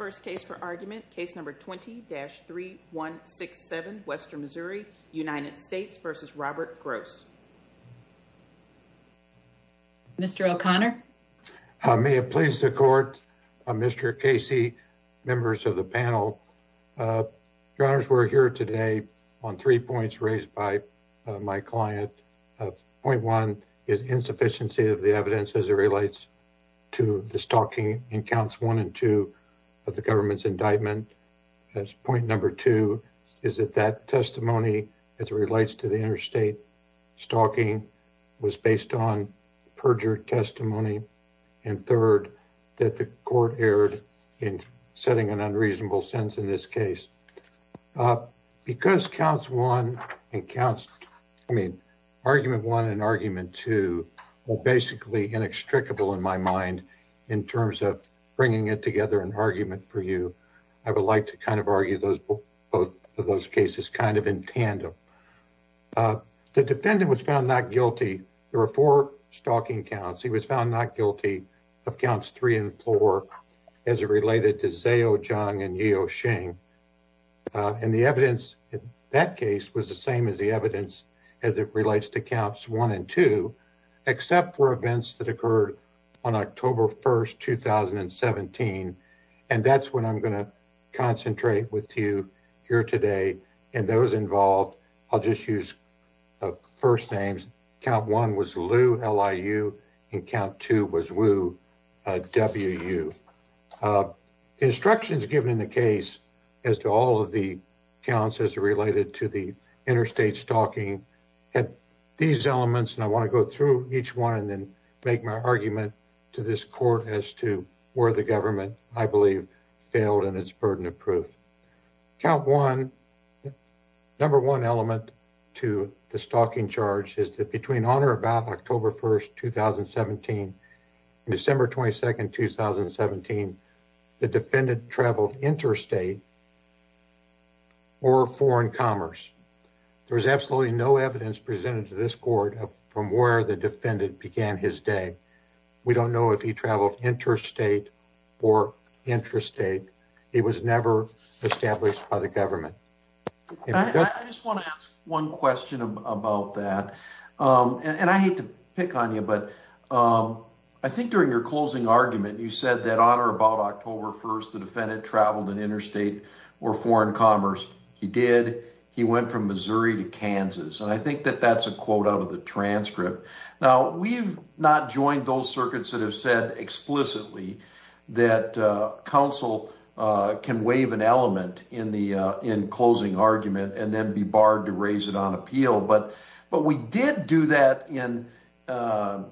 Mr. O'Connor. May it please the Court, Mr. Casey, members of the panel. Your Honors, we're here today on three points raised by my client. Point one is insufficiency of the evidence as it relates to the stalking encounter. Point two is that testimony as it relates to the interstate stalking was based on perjured testimony. And third, that the Court erred in setting an unreasonable sentence in this case. Because counts one and counts, I mean, argument one and argument two were basically inextricable in my mind in terms of bringing it together in argument for you, I would like to kind of argue those both of those cases kind of in tandem. The defendant was found not guilty. There were four stalking counts. He was found not guilty of counts three and four as it related to Zao Jiang and Yeo Shing. And the evidence in that case was the same as the evidence as it relates to counts one and two, except for events that occurred on October 1, 2017. And that's what I'm going to concentrate with you here today. And those involved, I'll just use first names. Count one was Liu, L-I-U, and count two was Wu, W-U. The instructions given in the case as to all of the counts as it related to the interstate stalking had these elements, and I want to go through each one and then make my argument to this Court as to where the government, I believe, failed in its burden of proof. Count one, number one element to the stalking charge is that between on or about October 1, 2017 and December 22, 2017, the defendant traveled interstate or foreign commerce. There was absolutely no evidence presented to this Court from where the defendant began his day. We don't know if he traveled interstate or intrastate. It was never established by the government. I just want to ask one question about that. And I hate to pick on you, but I think during your closing argument, you said that on or about October 1st, the defendant traveled in interstate or foreign commerce. He did. He went from Missouri to Kansas. And I think that that's a quote out of the transcript. Now, we've not joined those circuits that have said explicitly that counsel can waive an element in closing argument and then be barred to raise it on appeal. But we did do that by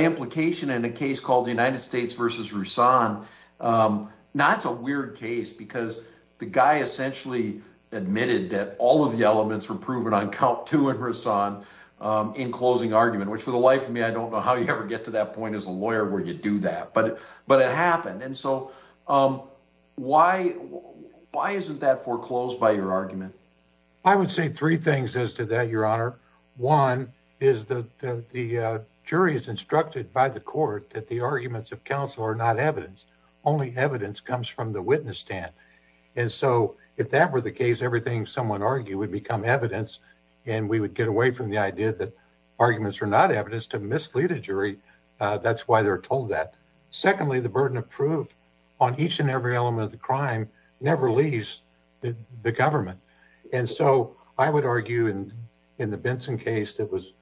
implication in a case called the United States v. Rusan. Now, it's a weird case because the guy essentially admitted that all of the elements were proven on count two in Rusan in closing argument, which for the life of me, I don't know how you ever get to that point as a lawyer where you do that. But it happened. And so why isn't that foreclosed by your argument? I would say three things as to that, Your Honor. One is that the jury is instructed by the court that the arguments of counsel are not evidence. Only evidence comes from the witness stand. And so if that were the case, everything someone argued would become evidence and we would get away from the idea that arguments are not evidence to mislead a jury. That's why they're told that. Secondly, the burden of proof on each and every element of the crime never leaves the government. And so I would argue in the Benson case that was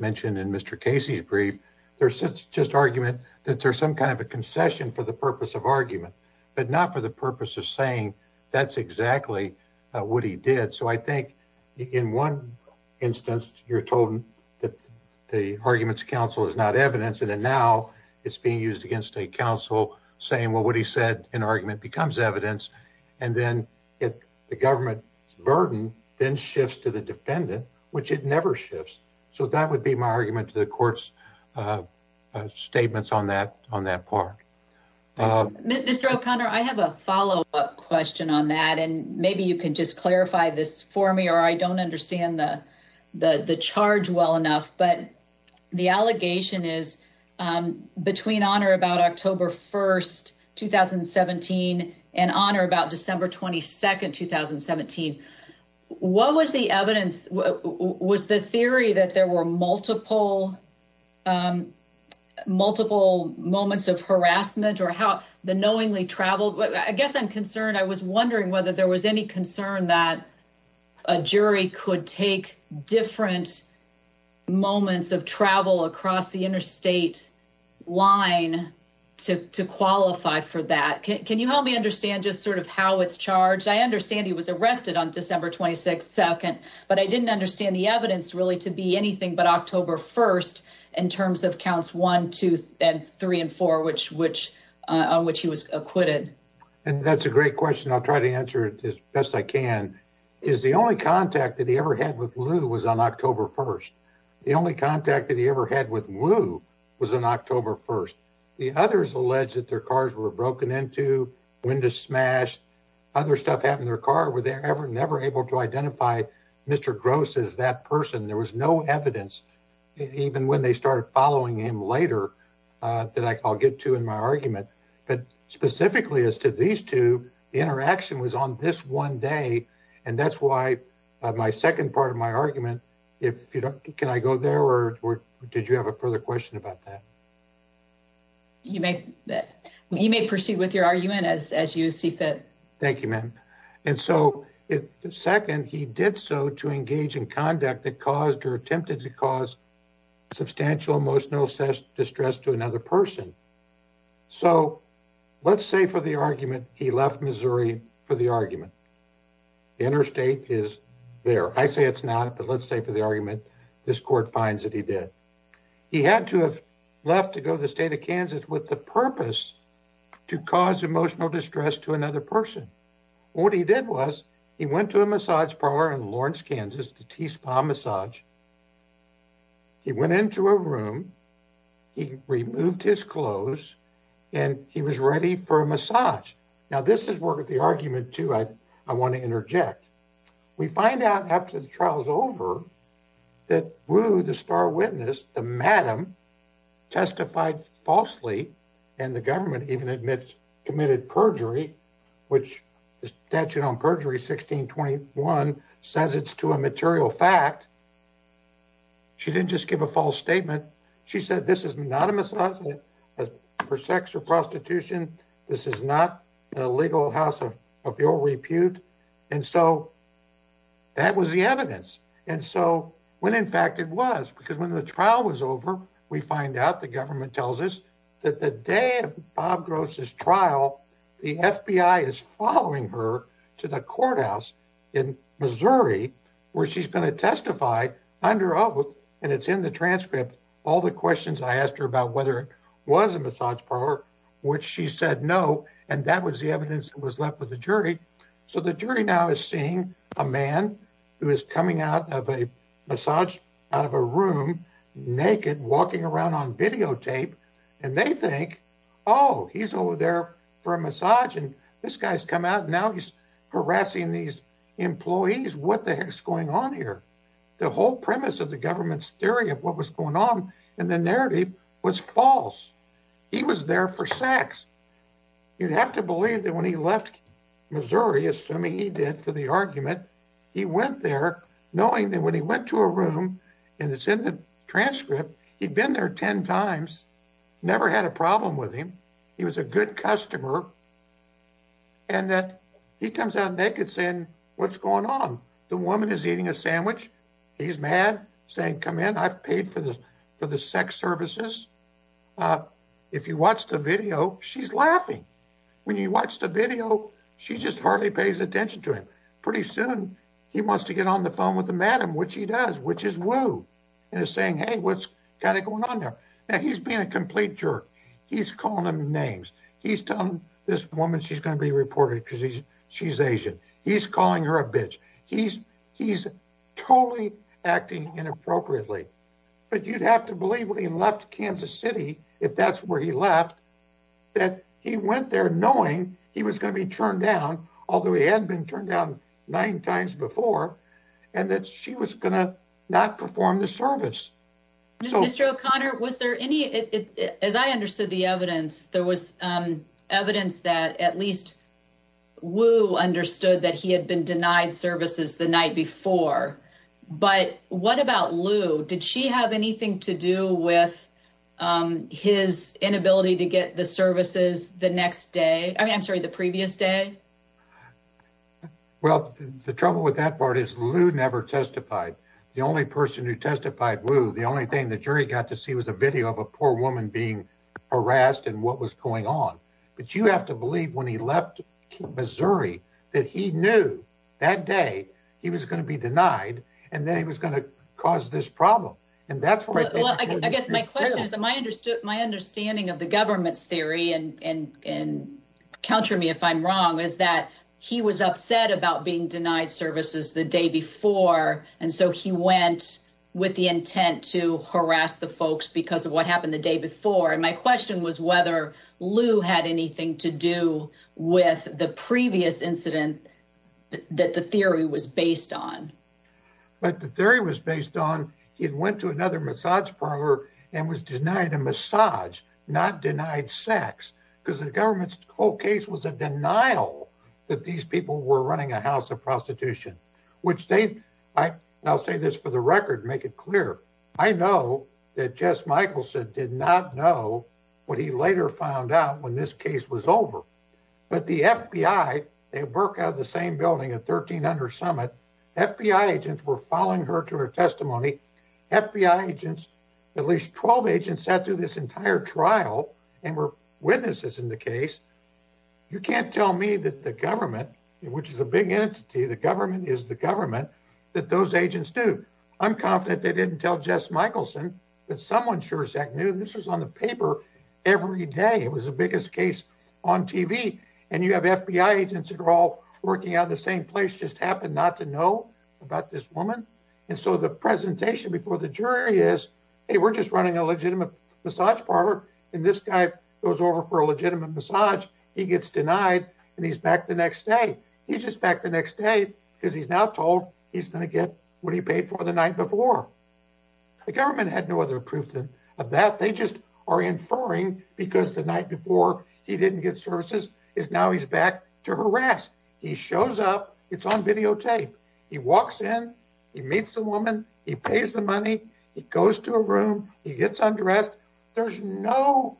mentioned in Mr. Casey's brief, there's just argument that there's some kind of a concession for the purpose of argument, but not for the purpose of saying that's exactly what he did. So I think in one instance, you're told that the arguments counsel is not evidence. And then now it's being used against a counsel saying, well, what he said in argument becomes evidence. And then the government's burden then shifts to the defendant, which it never shifts. So that would be my argument to the court's statements on that on that part. Mr. O'Connor, I have a follow up question on that, and maybe you can just clarify this for me, or I don't understand the the charge well enough. What was the evidence? Was the theory that there were multiple multiple moments of harassment or how the knowingly traveled? I guess I'm concerned. I was wondering whether there was any concern that a jury could take different moments of harassment. Different moments of travel across the interstate line to qualify for that. Can you help me understand just sort of how it's charged? I understand he was arrested on December 22nd, but I didn't understand the evidence really to be anything but October 1st in terms of counts one, two and three and four, which which on which he was acquitted. And that's a great question. I'll try to answer it as best I can. Is the only contact that he ever had with Lou was on October 1st. The only contact that he ever had with Lou was on October 1st. The others allege that their cars were broken into when to smash other stuff happened. Their car were there ever never able to identify Mr. Gross is that person. There was no evidence, even when they started following him later that I'll get to in my argument. But specifically as to these two interaction was on this one day. And that's why my second part of my argument. If you don't can I go there or did you have a further question about that? You may you may proceed with your argument as as you see fit. Thank you, ma'am. And so, second, he did so to engage in conduct that caused or attempted to cause substantial emotional distress to another person. So, let's say for the argument, he left Missouri for the argument. Interstate is there. I say it's not. But let's say for the argument, this court finds that he did. He had to have left to go to the state of Kansas with the purpose to cause emotional distress to another person. What he did was he went to a massage parlor in Lawrence, Kansas to tea spa massage. He went into a room, he removed his clothes, and he was ready for a massage. Now, this is where the argument to I, I want to interject. We find out after the trial is over that who the star witness, the madam testified falsely, and the government even admits committed perjury, which the statute on perjury 1621 says it's to a material fact. She didn't just give a false statement. She said, this is not a massage for sex or prostitution. This is not a legal house of your repute. And so that was the evidence. And so when, in fact, it was, because when the trial was over, we find out the government tells us that the day of Bob Gross's trial, the FBI is following her to the courthouse in Missouri, where she's going to testify under oath. And it's in the transcript. All the questions I asked her about whether it was a massage parlor, which she said no. And that was the evidence that was left with the jury. So the jury now is seeing a man who is coming out of a massage out of a room, naked, walking around on videotape, and they think, oh, he's over there for a massage, and this guy's come out. Now he's harassing these employees. What the heck's going on here? The whole premise of the government's theory of what was going on in the narrative was false. He was there for sex. You'd have to believe that when he left Missouri, assuming he did for the argument, he went there knowing that when he went to a room, and it's in the transcript, he'd been there 10 times, never had a problem with him. He was a good customer, and that he comes out naked saying, what's going on? The woman is eating a sandwich. He's mad, saying, come in, I've paid for the sex services. If you watch the video, she's laughing. When you watch the video, she just hardly pays attention to him. Pretty soon, he wants to get on the phone with the madam, which he does, which is Wu, and is saying, hey, what's going on there? Now, he's being a complete jerk. He's calling them names. He's telling this woman she's going to be reported because she's Asian. He's calling her a bitch. He's totally acting inappropriately. But you'd have to believe when he left Kansas City, if that's where he left, that he went there knowing he was going to be turned down, although he hadn't been turned down nine times before, and that she was going to not perform the service. Mr. O'Connor, was there any, as I understood the evidence, there was evidence that at least Wu understood that he had been denied services the night before. But what about Lu? Did she have anything to do with his inability to get the services the next day? I'm sorry, the previous day? Well, the trouble with that part is Lu never testified. The only person who testified, Wu, the only thing the jury got to see was a video of a poor woman being harassed and what was going on. But you have to believe when he left Missouri that he knew that day he was going to be denied, and then he was going to cause this problem. I guess my question is, my understanding of the government's theory, and counter me if I'm wrong, is that he was upset about being denied services the day before, and so he went with the intent to harass the folks because of what happened the day before. And my question was whether Lu had anything to do with the previous incident that the theory was based on. But the theory was based on he had went to another massage parlor and was denied a massage, not denied sex, because the government's whole case was a denial that these people were running a house of prostitution. I'll say this for the record, make it clear. I know that Jess Michelson did not know what he later found out when this case was over. But the FBI, they work out of the same building at 1300 Summit, FBI agents were following her to her testimony. FBI agents, at least 12 agents, sat through this entire trial and were witnesses in the case. You can't tell me that the government, which is a big entity, the government is the government, that those agents do. I'm confident they didn't tell Jess Michelson that someone sure as heck knew this was on the paper every day. It was the biggest case on TV, and you have FBI agents that are all working out of the same place just happened not to know about this woman. And so the presentation before the jury is, hey, we're just running a legitimate massage parlor. And this guy goes over for a legitimate massage. He gets denied and he's back the next day. He's just back the next day because he's now told he's going to get what he paid for the night before. The government had no other proof of that. They just are inferring because the night before he didn't get services is now he's back to harass. He shows up. It's on videotape. He walks in, he meets a woman, he pays the money, he goes to a room, he gets undressed. There's no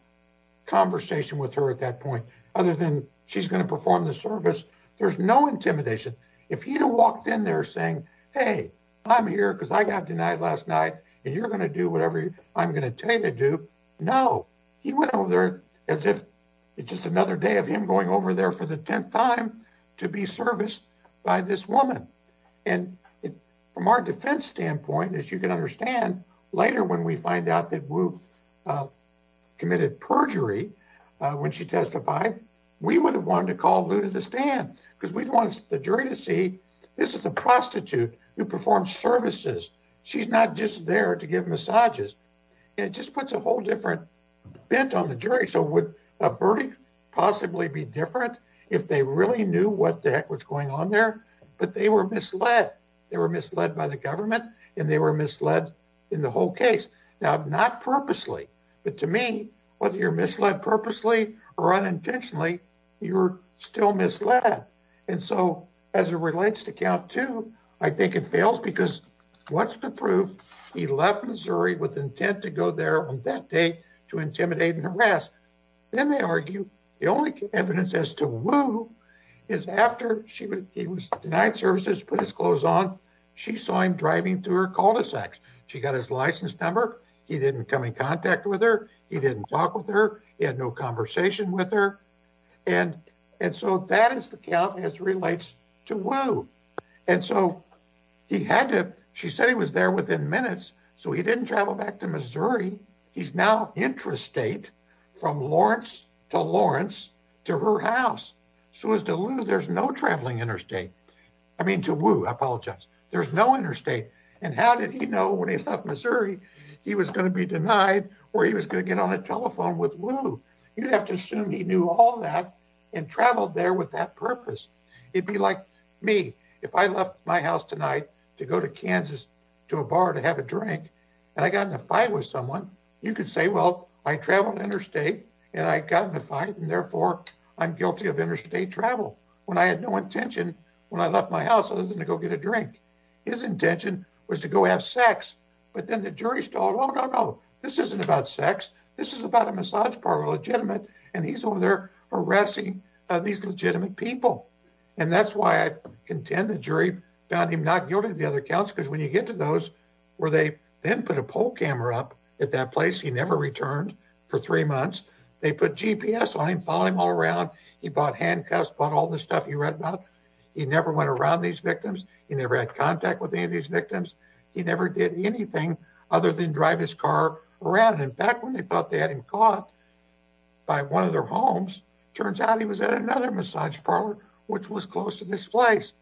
conversation with her at that point other than she's going to perform the service. There's no intimidation. If he had walked in there saying, hey, I'm here because I got denied last night and you're going to do whatever I'm going to tell you to do. No, he went over there as if it's just another day of him going over there for the 10th time to be serviced by this woman. And from our defense standpoint, as you can understand, later, when we find out that we've committed perjury, when she testified, we would have wanted to call Lou to the stand because we want the jury to see this is a prostitute who performs services. She's not just there to give massages. It just puts a whole different bent on the jury. So would a verdict possibly be different if they really knew what the heck was going on there? But they were misled. They were misled by the government and they were misled in the whole case. Now, not purposely, but to me, whether you're misled purposely or unintentionally, you're still misled. And so as it relates to count two, I think it fails because what's the proof? He left Missouri with intent to go there on that day to intimidate and harass. Then they argue the only evidence as to who is after she was denied services, put his clothes on. She saw him driving through her cul-de-sac. She got his license number. He didn't come in contact with her. He didn't talk with her. He had no conversation with her. And so that is the count as relates to Wu. And so he had to she said he was there within minutes. So he didn't travel back to Missouri. He's now interstate from Lawrence to Lawrence to her house. So as to Wu, there's no traveling interstate. I mean, to Wu, I apologize. There's no interstate. And how did he know when he left Missouri he was going to be denied or he was going to get on a telephone with Wu? You'd have to assume he knew all that and traveled there with that purpose. It'd be like me if I left my house tonight to go to Kansas to a bar to have a drink and I got in a fight with someone. You could say, well, I traveled interstate and I got in a fight. And therefore, I'm guilty of interstate travel when I had no intention. When I left my house, I was going to go get a drink. His intention was to go have sex. But then the jury thought, oh, no, no, this isn't about sex. This is about a massage parlor legitimate. And he's over there arresting these legitimate people. And that's why I contend the jury found him not guilty of the other counts. Because when you get to those where they then put a poll camera up at that place, he never returned for three months. They put GPS on him, followed him all around. He bought handcuffs, bought all the stuff he read about. He never went around these victims. He never had contact with any of these victims. He never did anything other than drive his car around. And back when they thought they had him caught by one of their homes, turns out he was at another massage parlor, which was close to this place.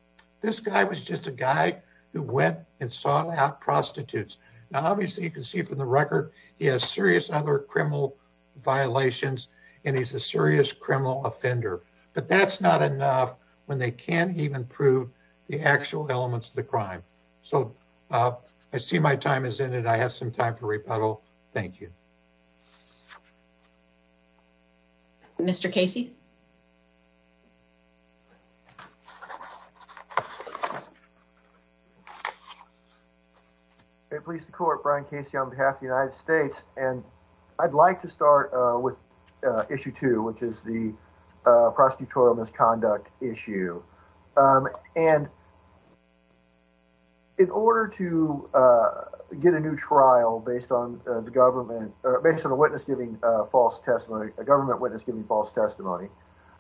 This guy was just a guy who went and sought out prostitutes. Now, obviously, you can see from the record, he has serious other criminal violations and he's a serious criminal offender. But that's not enough when they can't even prove the actual elements of the crime. So I see my time is in and I have some time for rebuttal. Thank you. Mr. Casey. It pleases the court, Brian Casey, on behalf of the United States. And I'd like to start with issue two, which is the prosecutorial misconduct issue. And. In order to get a new trial based on the government, based on a witness giving false testimony, a government witness giving false testimony,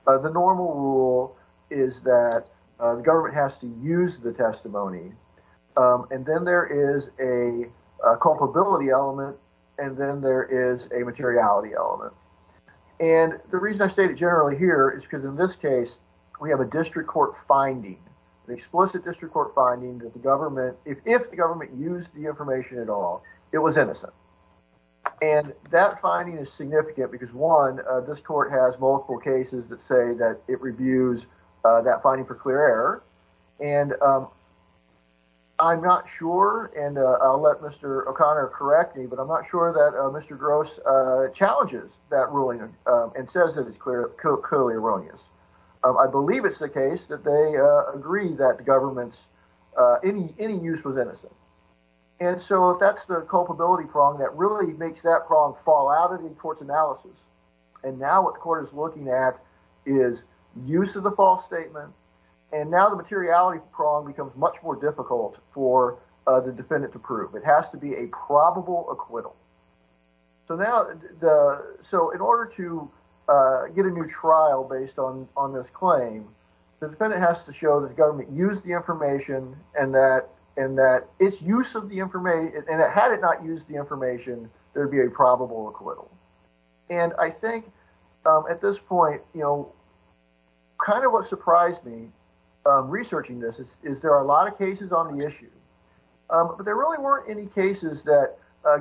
the normal rule is that the government has to use the testimony and then there is a culpability element and then there is a materiality element. And the reason I stated generally here is because in this case we have a district court finding, an explicit district court finding that the government, if the government used the information at all, it was innocent. And that finding is significant because, one, this court has multiple cases that say that it reviews that finding for clear error. And I'm not sure. And I'll let Mr. O'Connor correct me, but I'm not sure that Mr. Gross challenges that ruling and says that it's clearly erroneous. I believe it's the case that they agree that the government's any use was innocent. And so that's the culpability prong that really makes that prong fall out of the court's analysis. And now what the court is looking at is use of the false statement. And now the materiality prong becomes much more difficult for the defendant to prove. It has to be a probable acquittal. So now, so in order to get a new trial based on this claim, the defendant has to show that the government used the information and that its use of the information, and that had it not used the information, there'd be a probable acquittal. And I think at this point, you know, kind of what surprised me researching this is there are a lot of cases on the issue. But there really weren't any cases that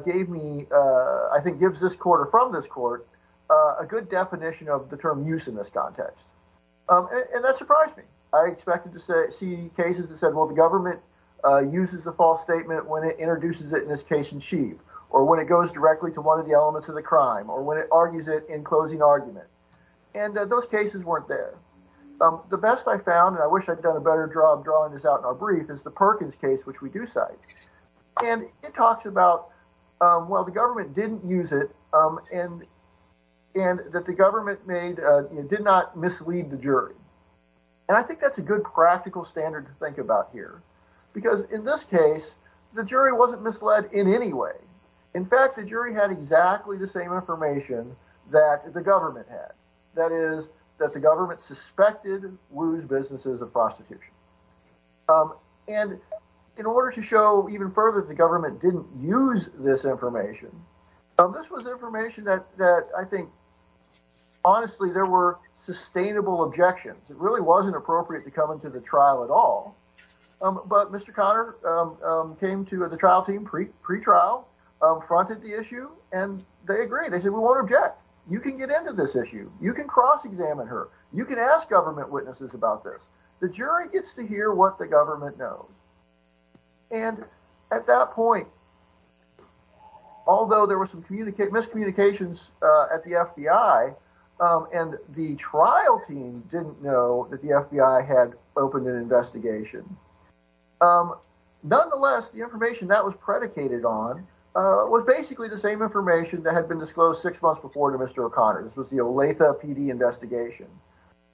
gave me, I think, gives this court or from this court a good definition of the term use in this context. And that surprised me. I expected to see cases that said, well, the government uses the false statement when it introduces it in this case in chief, or when it goes directly to one of the elements of the crime or when it argues it in closing argument. And those cases weren't there. The best I found, and I wish I'd done a better job drawing this out in our brief, is the Perkins case, which we do cite. And it talks about, well, the government didn't use it, and that the government did not mislead the jury. And I think that's a good practical standard to think about here, because in this case, the jury wasn't misled in any way. In fact, the jury had exactly the same information that the government had, that is, that the government suspected Wu's businesses of prostitution. And in order to show even further that the government didn't use this information, this was information that I think, honestly, there were sustainable objections. It really wasn't appropriate to come into the trial at all. But Mr. Conner came to the trial team pre-trial, fronted the issue, and they agreed. They said, we won't object. You can get into this issue. You can cross-examine her. You can ask government witnesses about this. The jury gets to hear what the government knows. And at that point, although there were some miscommunications at the FBI, and the trial team didn't know that the FBI had opened an investigation, nonetheless, the information that was predicated on was basically the same information that had been disclosed six months before to Mr. O'Connor. This was the Olathe PD investigation.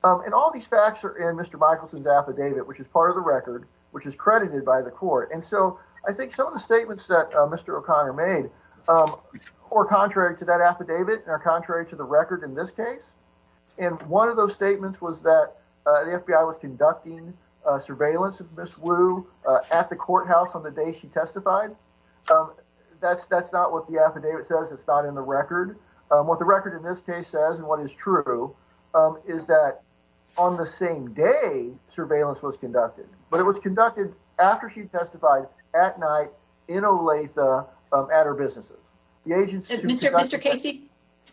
And all these facts are in Mr. Michelson's affidavit, which is part of the record, which is credited by the court. And so I think some of the statements that Mr. O'Connor made were contrary to that affidavit and are contrary to the record in this case. And one of those statements was that the FBI was conducting surveillance of Ms. Wu at the courthouse on the day she testified. That's not what the affidavit says. It's not in the record. What the record in this case says, and what is true, is that on the same day surveillance was conducted. But it was conducted after she testified at night in Olathe at her businesses. Mr. Casey,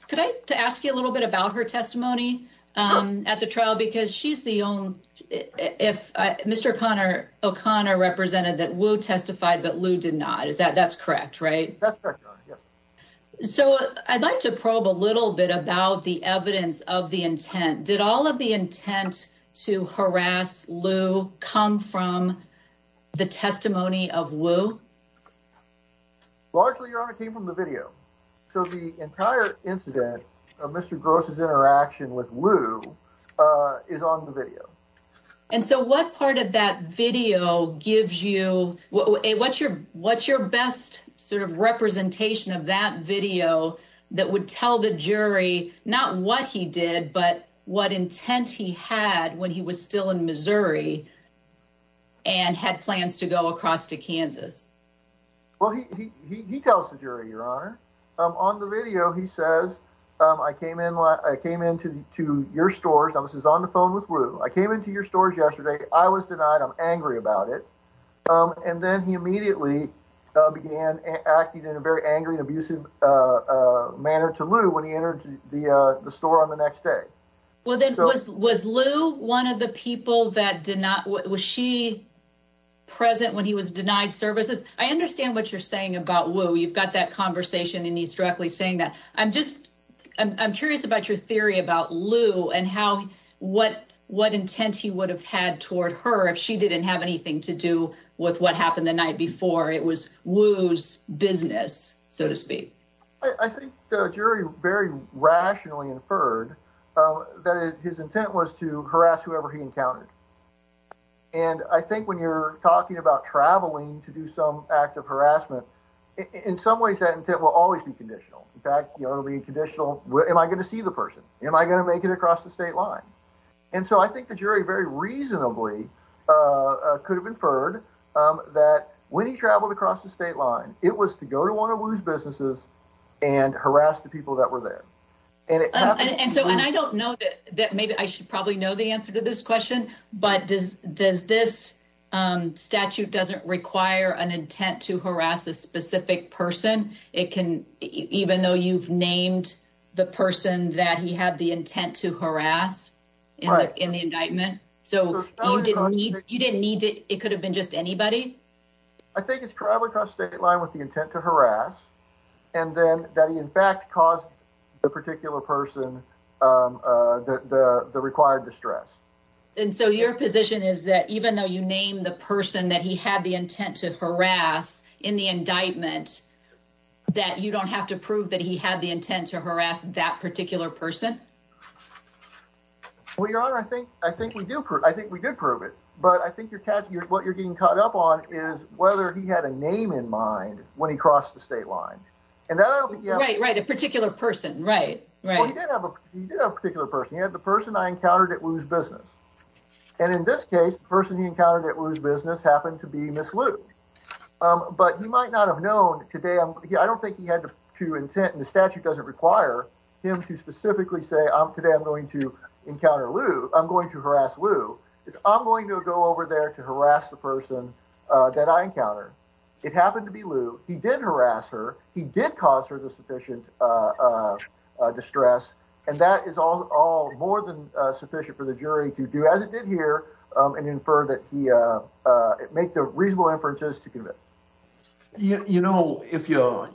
could I ask you a little bit about her testimony at the trial? Because she's the only if Mr. O'Connor O'Connor represented that Wu testified, but Lu did not. Is that that's correct, right? So I'd like to probe a little bit about the evidence of the intent. Did all of the intent to harass Lu come from the testimony of Wu? Largely, Your Honor, it came from the video. So the entire incident of Mr. Gross's interaction with Lu is on the video. And so what part of that video gives you what's your what's your best sort of representation of that video that would tell the jury not what he did, but what intent he had when he was still in Missouri and had plans to go across to Kansas? Well, he tells the jury, Your Honor, on the video, he says, I came in, I came into your stores. I was on the phone with Wu. I came into your stores yesterday. I was denied. I'm angry about it. And then he immediately began acting in a very angry, abusive manner to Lu when he entered the store on the next day. Well, then was was Lu one of the people that did not? Was she present when he was denied services? I understand what you're saying about Wu. You've got that conversation and he's directly saying that. I'm just I'm curious about your theory about Lu and how what what intent he would have had toward her if she didn't have anything to do with what happened the night before. It was Wu's business, so to speak. I think the jury very rationally inferred that his intent was to harass whoever he encountered. And I think when you're talking about traveling to do some act of harassment, in some ways that intent will always be conditional. In fact, it'll be conditional. Am I going to see the person? Am I going to make it across the state line? And so I think the jury very reasonably could have inferred that when he traveled across the state line, it was to go to one of Wu's businesses and harass the people that were there. And so and I don't know that maybe I should probably know the answer to this question, but does this statute doesn't require an intent to harass a specific person? It can even though you've named the person that he had the intent to harass in the indictment. So you didn't need it. It could have been just anybody. I think it's probably across state line with the intent to harass and then that he in fact caused the particular person the required distress. And so your position is that even though you name the person that he had the intent to harass in the indictment, that you don't have to prove that he had the intent to harass that particular person? Well, your honor, I think I think we do. I think we did prove it. But I think you're catching what you're getting caught up on is whether he had a name in mind when he crossed the state line. And that's right. Right. A particular person. Right. Right. He did have a particular person. He had the person I encountered at Wu's business. And in this case, the person he encountered at Wu's business happened to be Ms. Lu. But he might not have known today. I don't think he had to intent. And the statute doesn't require him to specifically say today I'm going to encounter Lu. I'm going to harass Lu. I'm going to go over there to harass the person that I encountered. It happened to be Lu. He did harass her. He did cause her the sufficient distress. And that is all more than sufficient for the jury to do as it did here and infer that he make the reasonable inferences to convict. You know, if you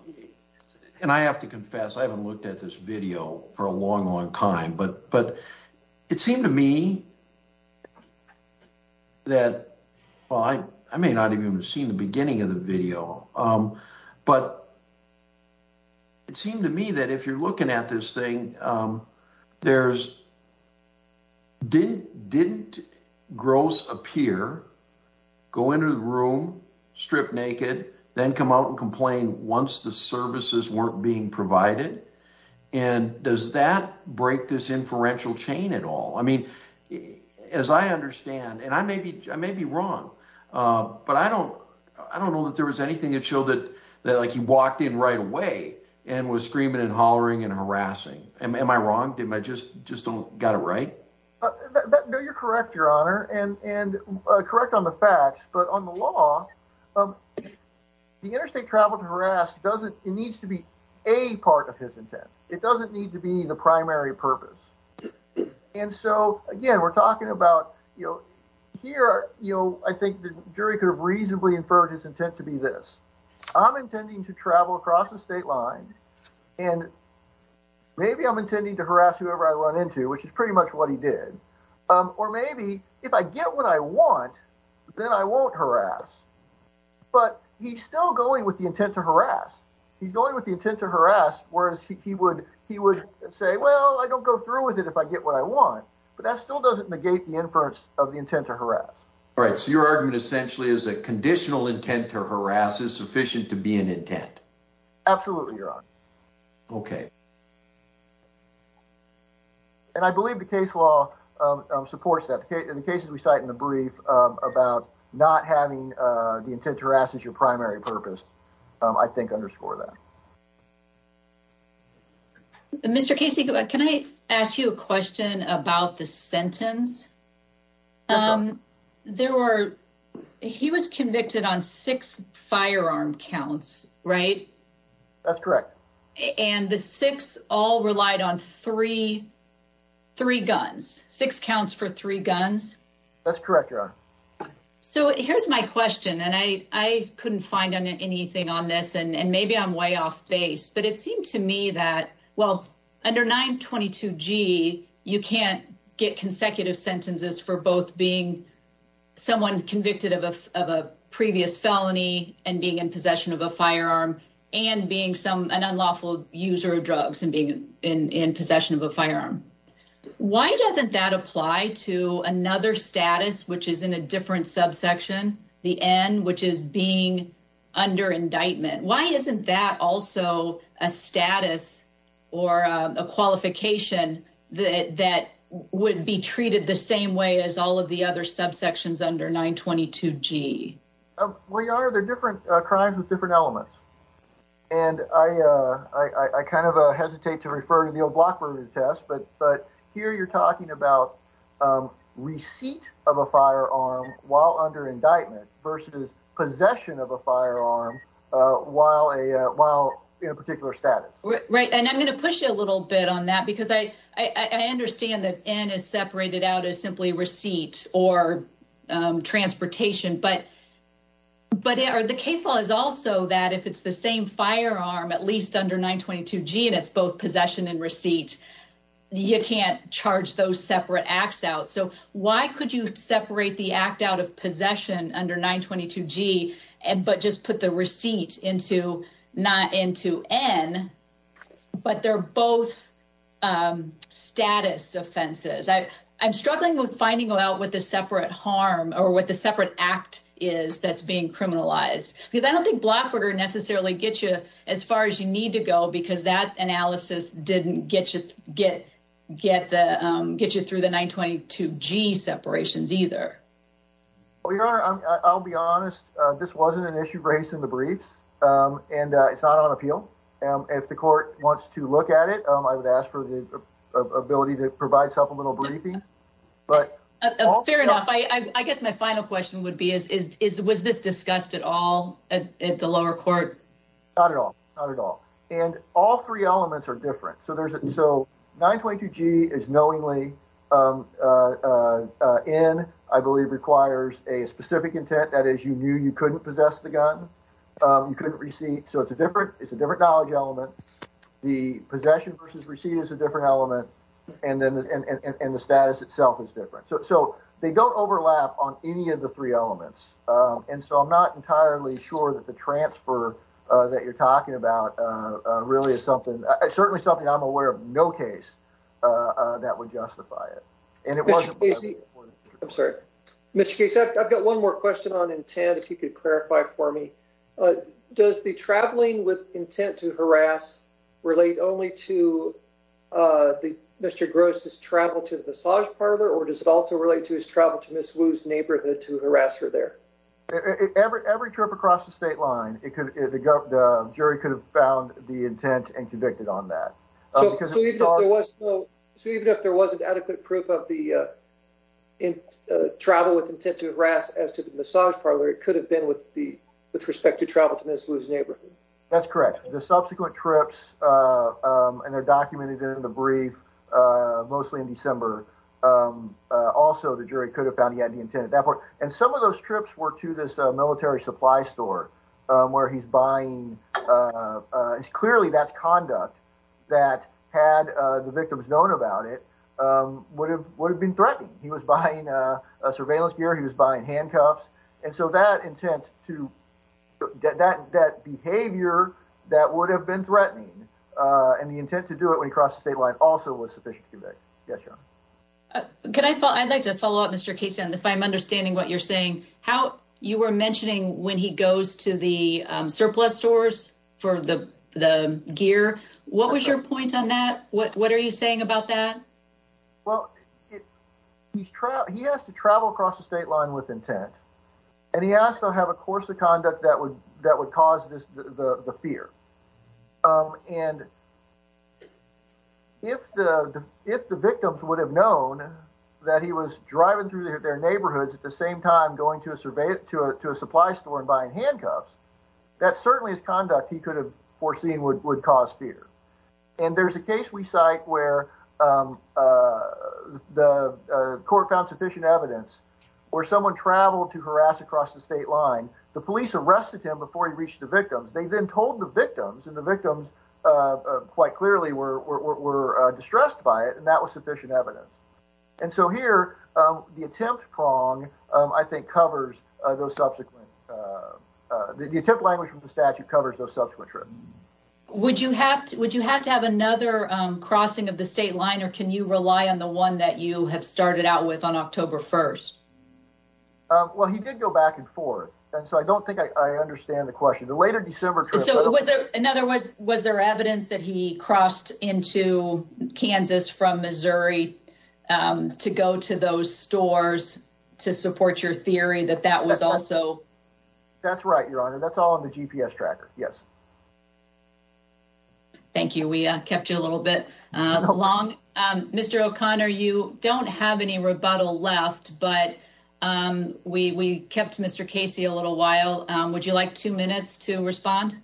and I have to confess, I haven't looked at this video for a long, long time, but but it seemed to me that I may not even have seen the beginning of the video. But it seemed to me that if you're looking at this thing, there's didn't didn't gross appear, go into the room, strip naked, then come out and complain once the services weren't being provided. And does that break this inferential chain at all? I mean, as I understand, and I may be I may be wrong, but I don't I don't know that there was anything that showed that that like he walked in right away and was screaming and hollering and harassing. Am I wrong? Did I just just don't got it right? No, you're correct, Your Honor. And correct on the facts. But on the law, the interstate travel to harass doesn't it needs to be a part of his intent. It doesn't need to be the primary purpose. And so, again, we're talking about, you know, here, you know, I think the jury could have reasonably inferred his intent to be this. I'm intending to travel across the state line and maybe I'm intending to harass whoever I run into, which is pretty much what he did. Or maybe if I get what I want, then I won't harass. But he's still going with the intent to harass. He's going with the intent to harass, whereas he would he would say, well, I don't go through with it if I get what I want. But that still doesn't negate the inference of the intent to harass. All right. So your argument essentially is a conditional intent to harass is sufficient to be an intent. Absolutely, Your Honor. Okay. And I believe the case law supports that. In the cases we cite in the brief about not having the intent to harass as your primary purpose, I think underscore that. Mr. Casey, can I ask you a question about the sentence? There were he was convicted on six firearm counts, right? That's correct. And the six all relied on three, three guns, six counts for three guns. That's correct, Your Honor. So here's my question, and I couldn't find anything on this, and maybe I'm way off base, but it seemed to me that, well, under 922 G, you can't get consecutive sentences for both being someone convicted of a previous felony and being in possession of a firearm and being some an unlawful user of drugs and being in possession of a firearm. Why doesn't that apply to another status, which is in a different subsection, the N, which is being under indictment? Why isn't that also a status or a qualification that would be treated the same way as all of the other subsections under 922 G? Well, Your Honor, they're different crimes with different elements. And I kind of hesitate to refer to the old block burglary test, but here you're talking about receipt of a firearm while under indictment versus possession of a firearm while in a particular status. Right, and I'm going to push you a little bit on that because I understand that N is separated out as simply receipt or transportation, but the case law is also that if it's the same firearm, at least under 922 G, and it's both possession and receipt, you can't charge those separate acts out. So why could you separate the act out of possession under 922 G and but just put the receipt into not into N, but they're both status offenses. I'm struggling with finding out what the separate harm or what the separate act is that's being criminalized because I don't think block burger necessarily gets you as far as you need to go because that analysis didn't get you through the 922 G separations either. Well, Your Honor, I'll be honest. This wasn't an issue raised in the briefs, and it's not on appeal. If the court wants to look at it, I would ask for the ability to provide self a little briefing. Fair enough. I guess my final question would be, was this discussed at all at the lower court? Not at all. Not at all. And all three elements are different. So there's so 922 G is knowingly in, I believe, requires a specific intent. That is, you knew you couldn't possess the gun. You couldn't receive. So it's a different it's a different knowledge element. The possession versus receipt is a different element. And then the status itself is different. So they don't overlap on any of the three elements. And so I'm not entirely sure that the transfer that you're talking about really is something certainly something I'm aware of. No case that would justify it. I'm sorry, Mr. Case. I've got one more question on intent. If you could clarify for me, does the traveling with intent to harass relate only to the Mr. Gross's travel to the massage parlor? Or does it also relate to his travel to Miss Wu's neighborhood to harass her there? Every trip across the state line, it could go up. The jury could have found the intent and convicted on that. Because there was no. So even if there wasn't adequate proof of the travel with intent to harass as to the massage parlor, it could have been with the with respect to travel to Miss Wu's neighborhood. That's correct. The subsequent trips and they're documented in the brief, mostly in December. Also, the jury could have found he had the intent at that point. And some of those trips were to this military supply store where he's buying. Clearly, that's conduct that had the victims known about it would have would have been threatening. He was buying surveillance gear. He was buying handcuffs. And so that intent to get that that behavior that would have been threatening and the intent to do it when he crossed the state line also was sufficient. Can I follow? I'd like to follow up, Mr. Case. And if I'm understanding what you're saying, how you were mentioning when he goes to the surplus stores for the the gear, what was your point on that? What what are you saying about that? Well, he's he has to travel across the state line with intent. And he asked, I'll have a course of conduct that would that would cause the fear. And if the if the victims would have known that he was driving through their neighborhoods at the same time going to a survey to a to a supply store and buying handcuffs, that certainly is conduct he could have foreseen would would cause fear. And there's a case we cite where the court found sufficient evidence or someone traveled to harass across the state line. The police arrested him before he reached the victims. They then told the victims and the victims quite clearly were distressed by it. And that was sufficient evidence. And so here, the attempt prong, I think, covers those subsequent. Would you have to would you have to have another crossing of the state line or can you rely on the one that you have started out with on October 1st? Well, he did go back and forth. And so I don't think I understand the question. The later December. So was there another was was there evidence that he crossed into Kansas from Missouri to go to those stores to support your theory that that was also. That's right, Your Honor. That's all on the GPS tracker. Yes. Thank you. We kept you a little bit long. Mr. O'Connor, you don't have any rebuttal left, but we kept Mr. Casey a little while. Would you like two minutes to respond?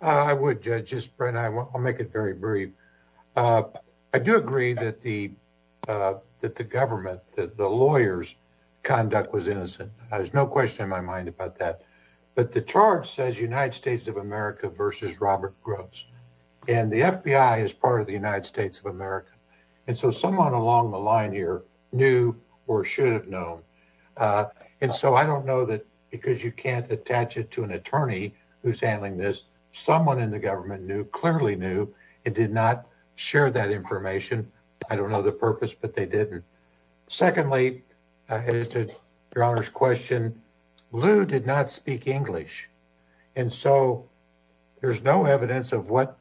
I would judge his brain. I'll make it very brief. I do agree that the that the government, the lawyers conduct was innocent. There's no question in my mind about that. But the charge says United States of America versus Robert Gross. And the FBI is part of the United States of America. And so someone along the line here knew or should have known. And so I don't know that because you can't attach it to an attorney who's handling this. Someone in the government knew clearly knew it did not share that information. I don't know the purpose, but they didn't. Secondly, as to your honor's question, Lou did not speak English. And so there's no evidence of what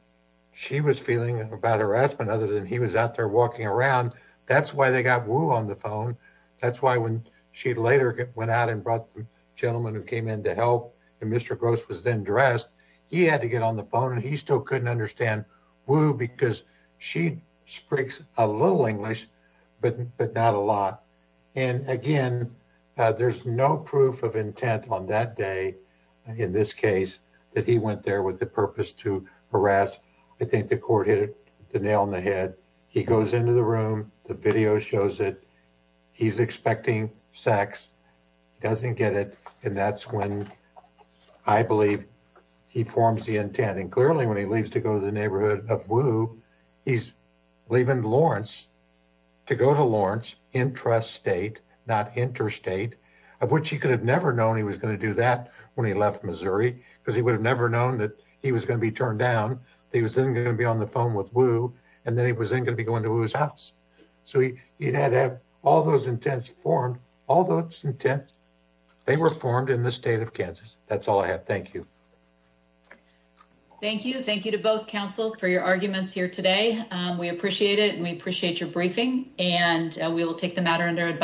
she was feeling about harassment other than he was out there walking around. That's why they got Wu on the phone. That's why when she later went out and brought the gentleman who came in to help. And Mr. Gross was then dressed. He had to get on the phone and he still couldn't understand who because she speaks a little English, but not a lot. And again, there's no proof of intent on that day in this case that he went there with the purpose to harass. I think the court hit the nail on the head. He goes into the room. The video shows that he's expecting sex, doesn't get it. And that's when I believe he forms the intent. And clearly, when he leaves to go to the neighborhood of Wu, he's leaving Lawrence to go to Lawrence interest state, not interstate, of which he could have never known he was going to do that when he left Missouri because he would have never known that he was going to be turned down. He was going to be on the phone with Wu and then he was going to be going to his house. So he had to have all those intense form. All those intent. They were formed in the state of Kansas. That's all I have. Thank you. Thank you. Thank you to both counsel for your arguments here today. We appreciate it. And we appreciate your briefing and we will take the matter under advice.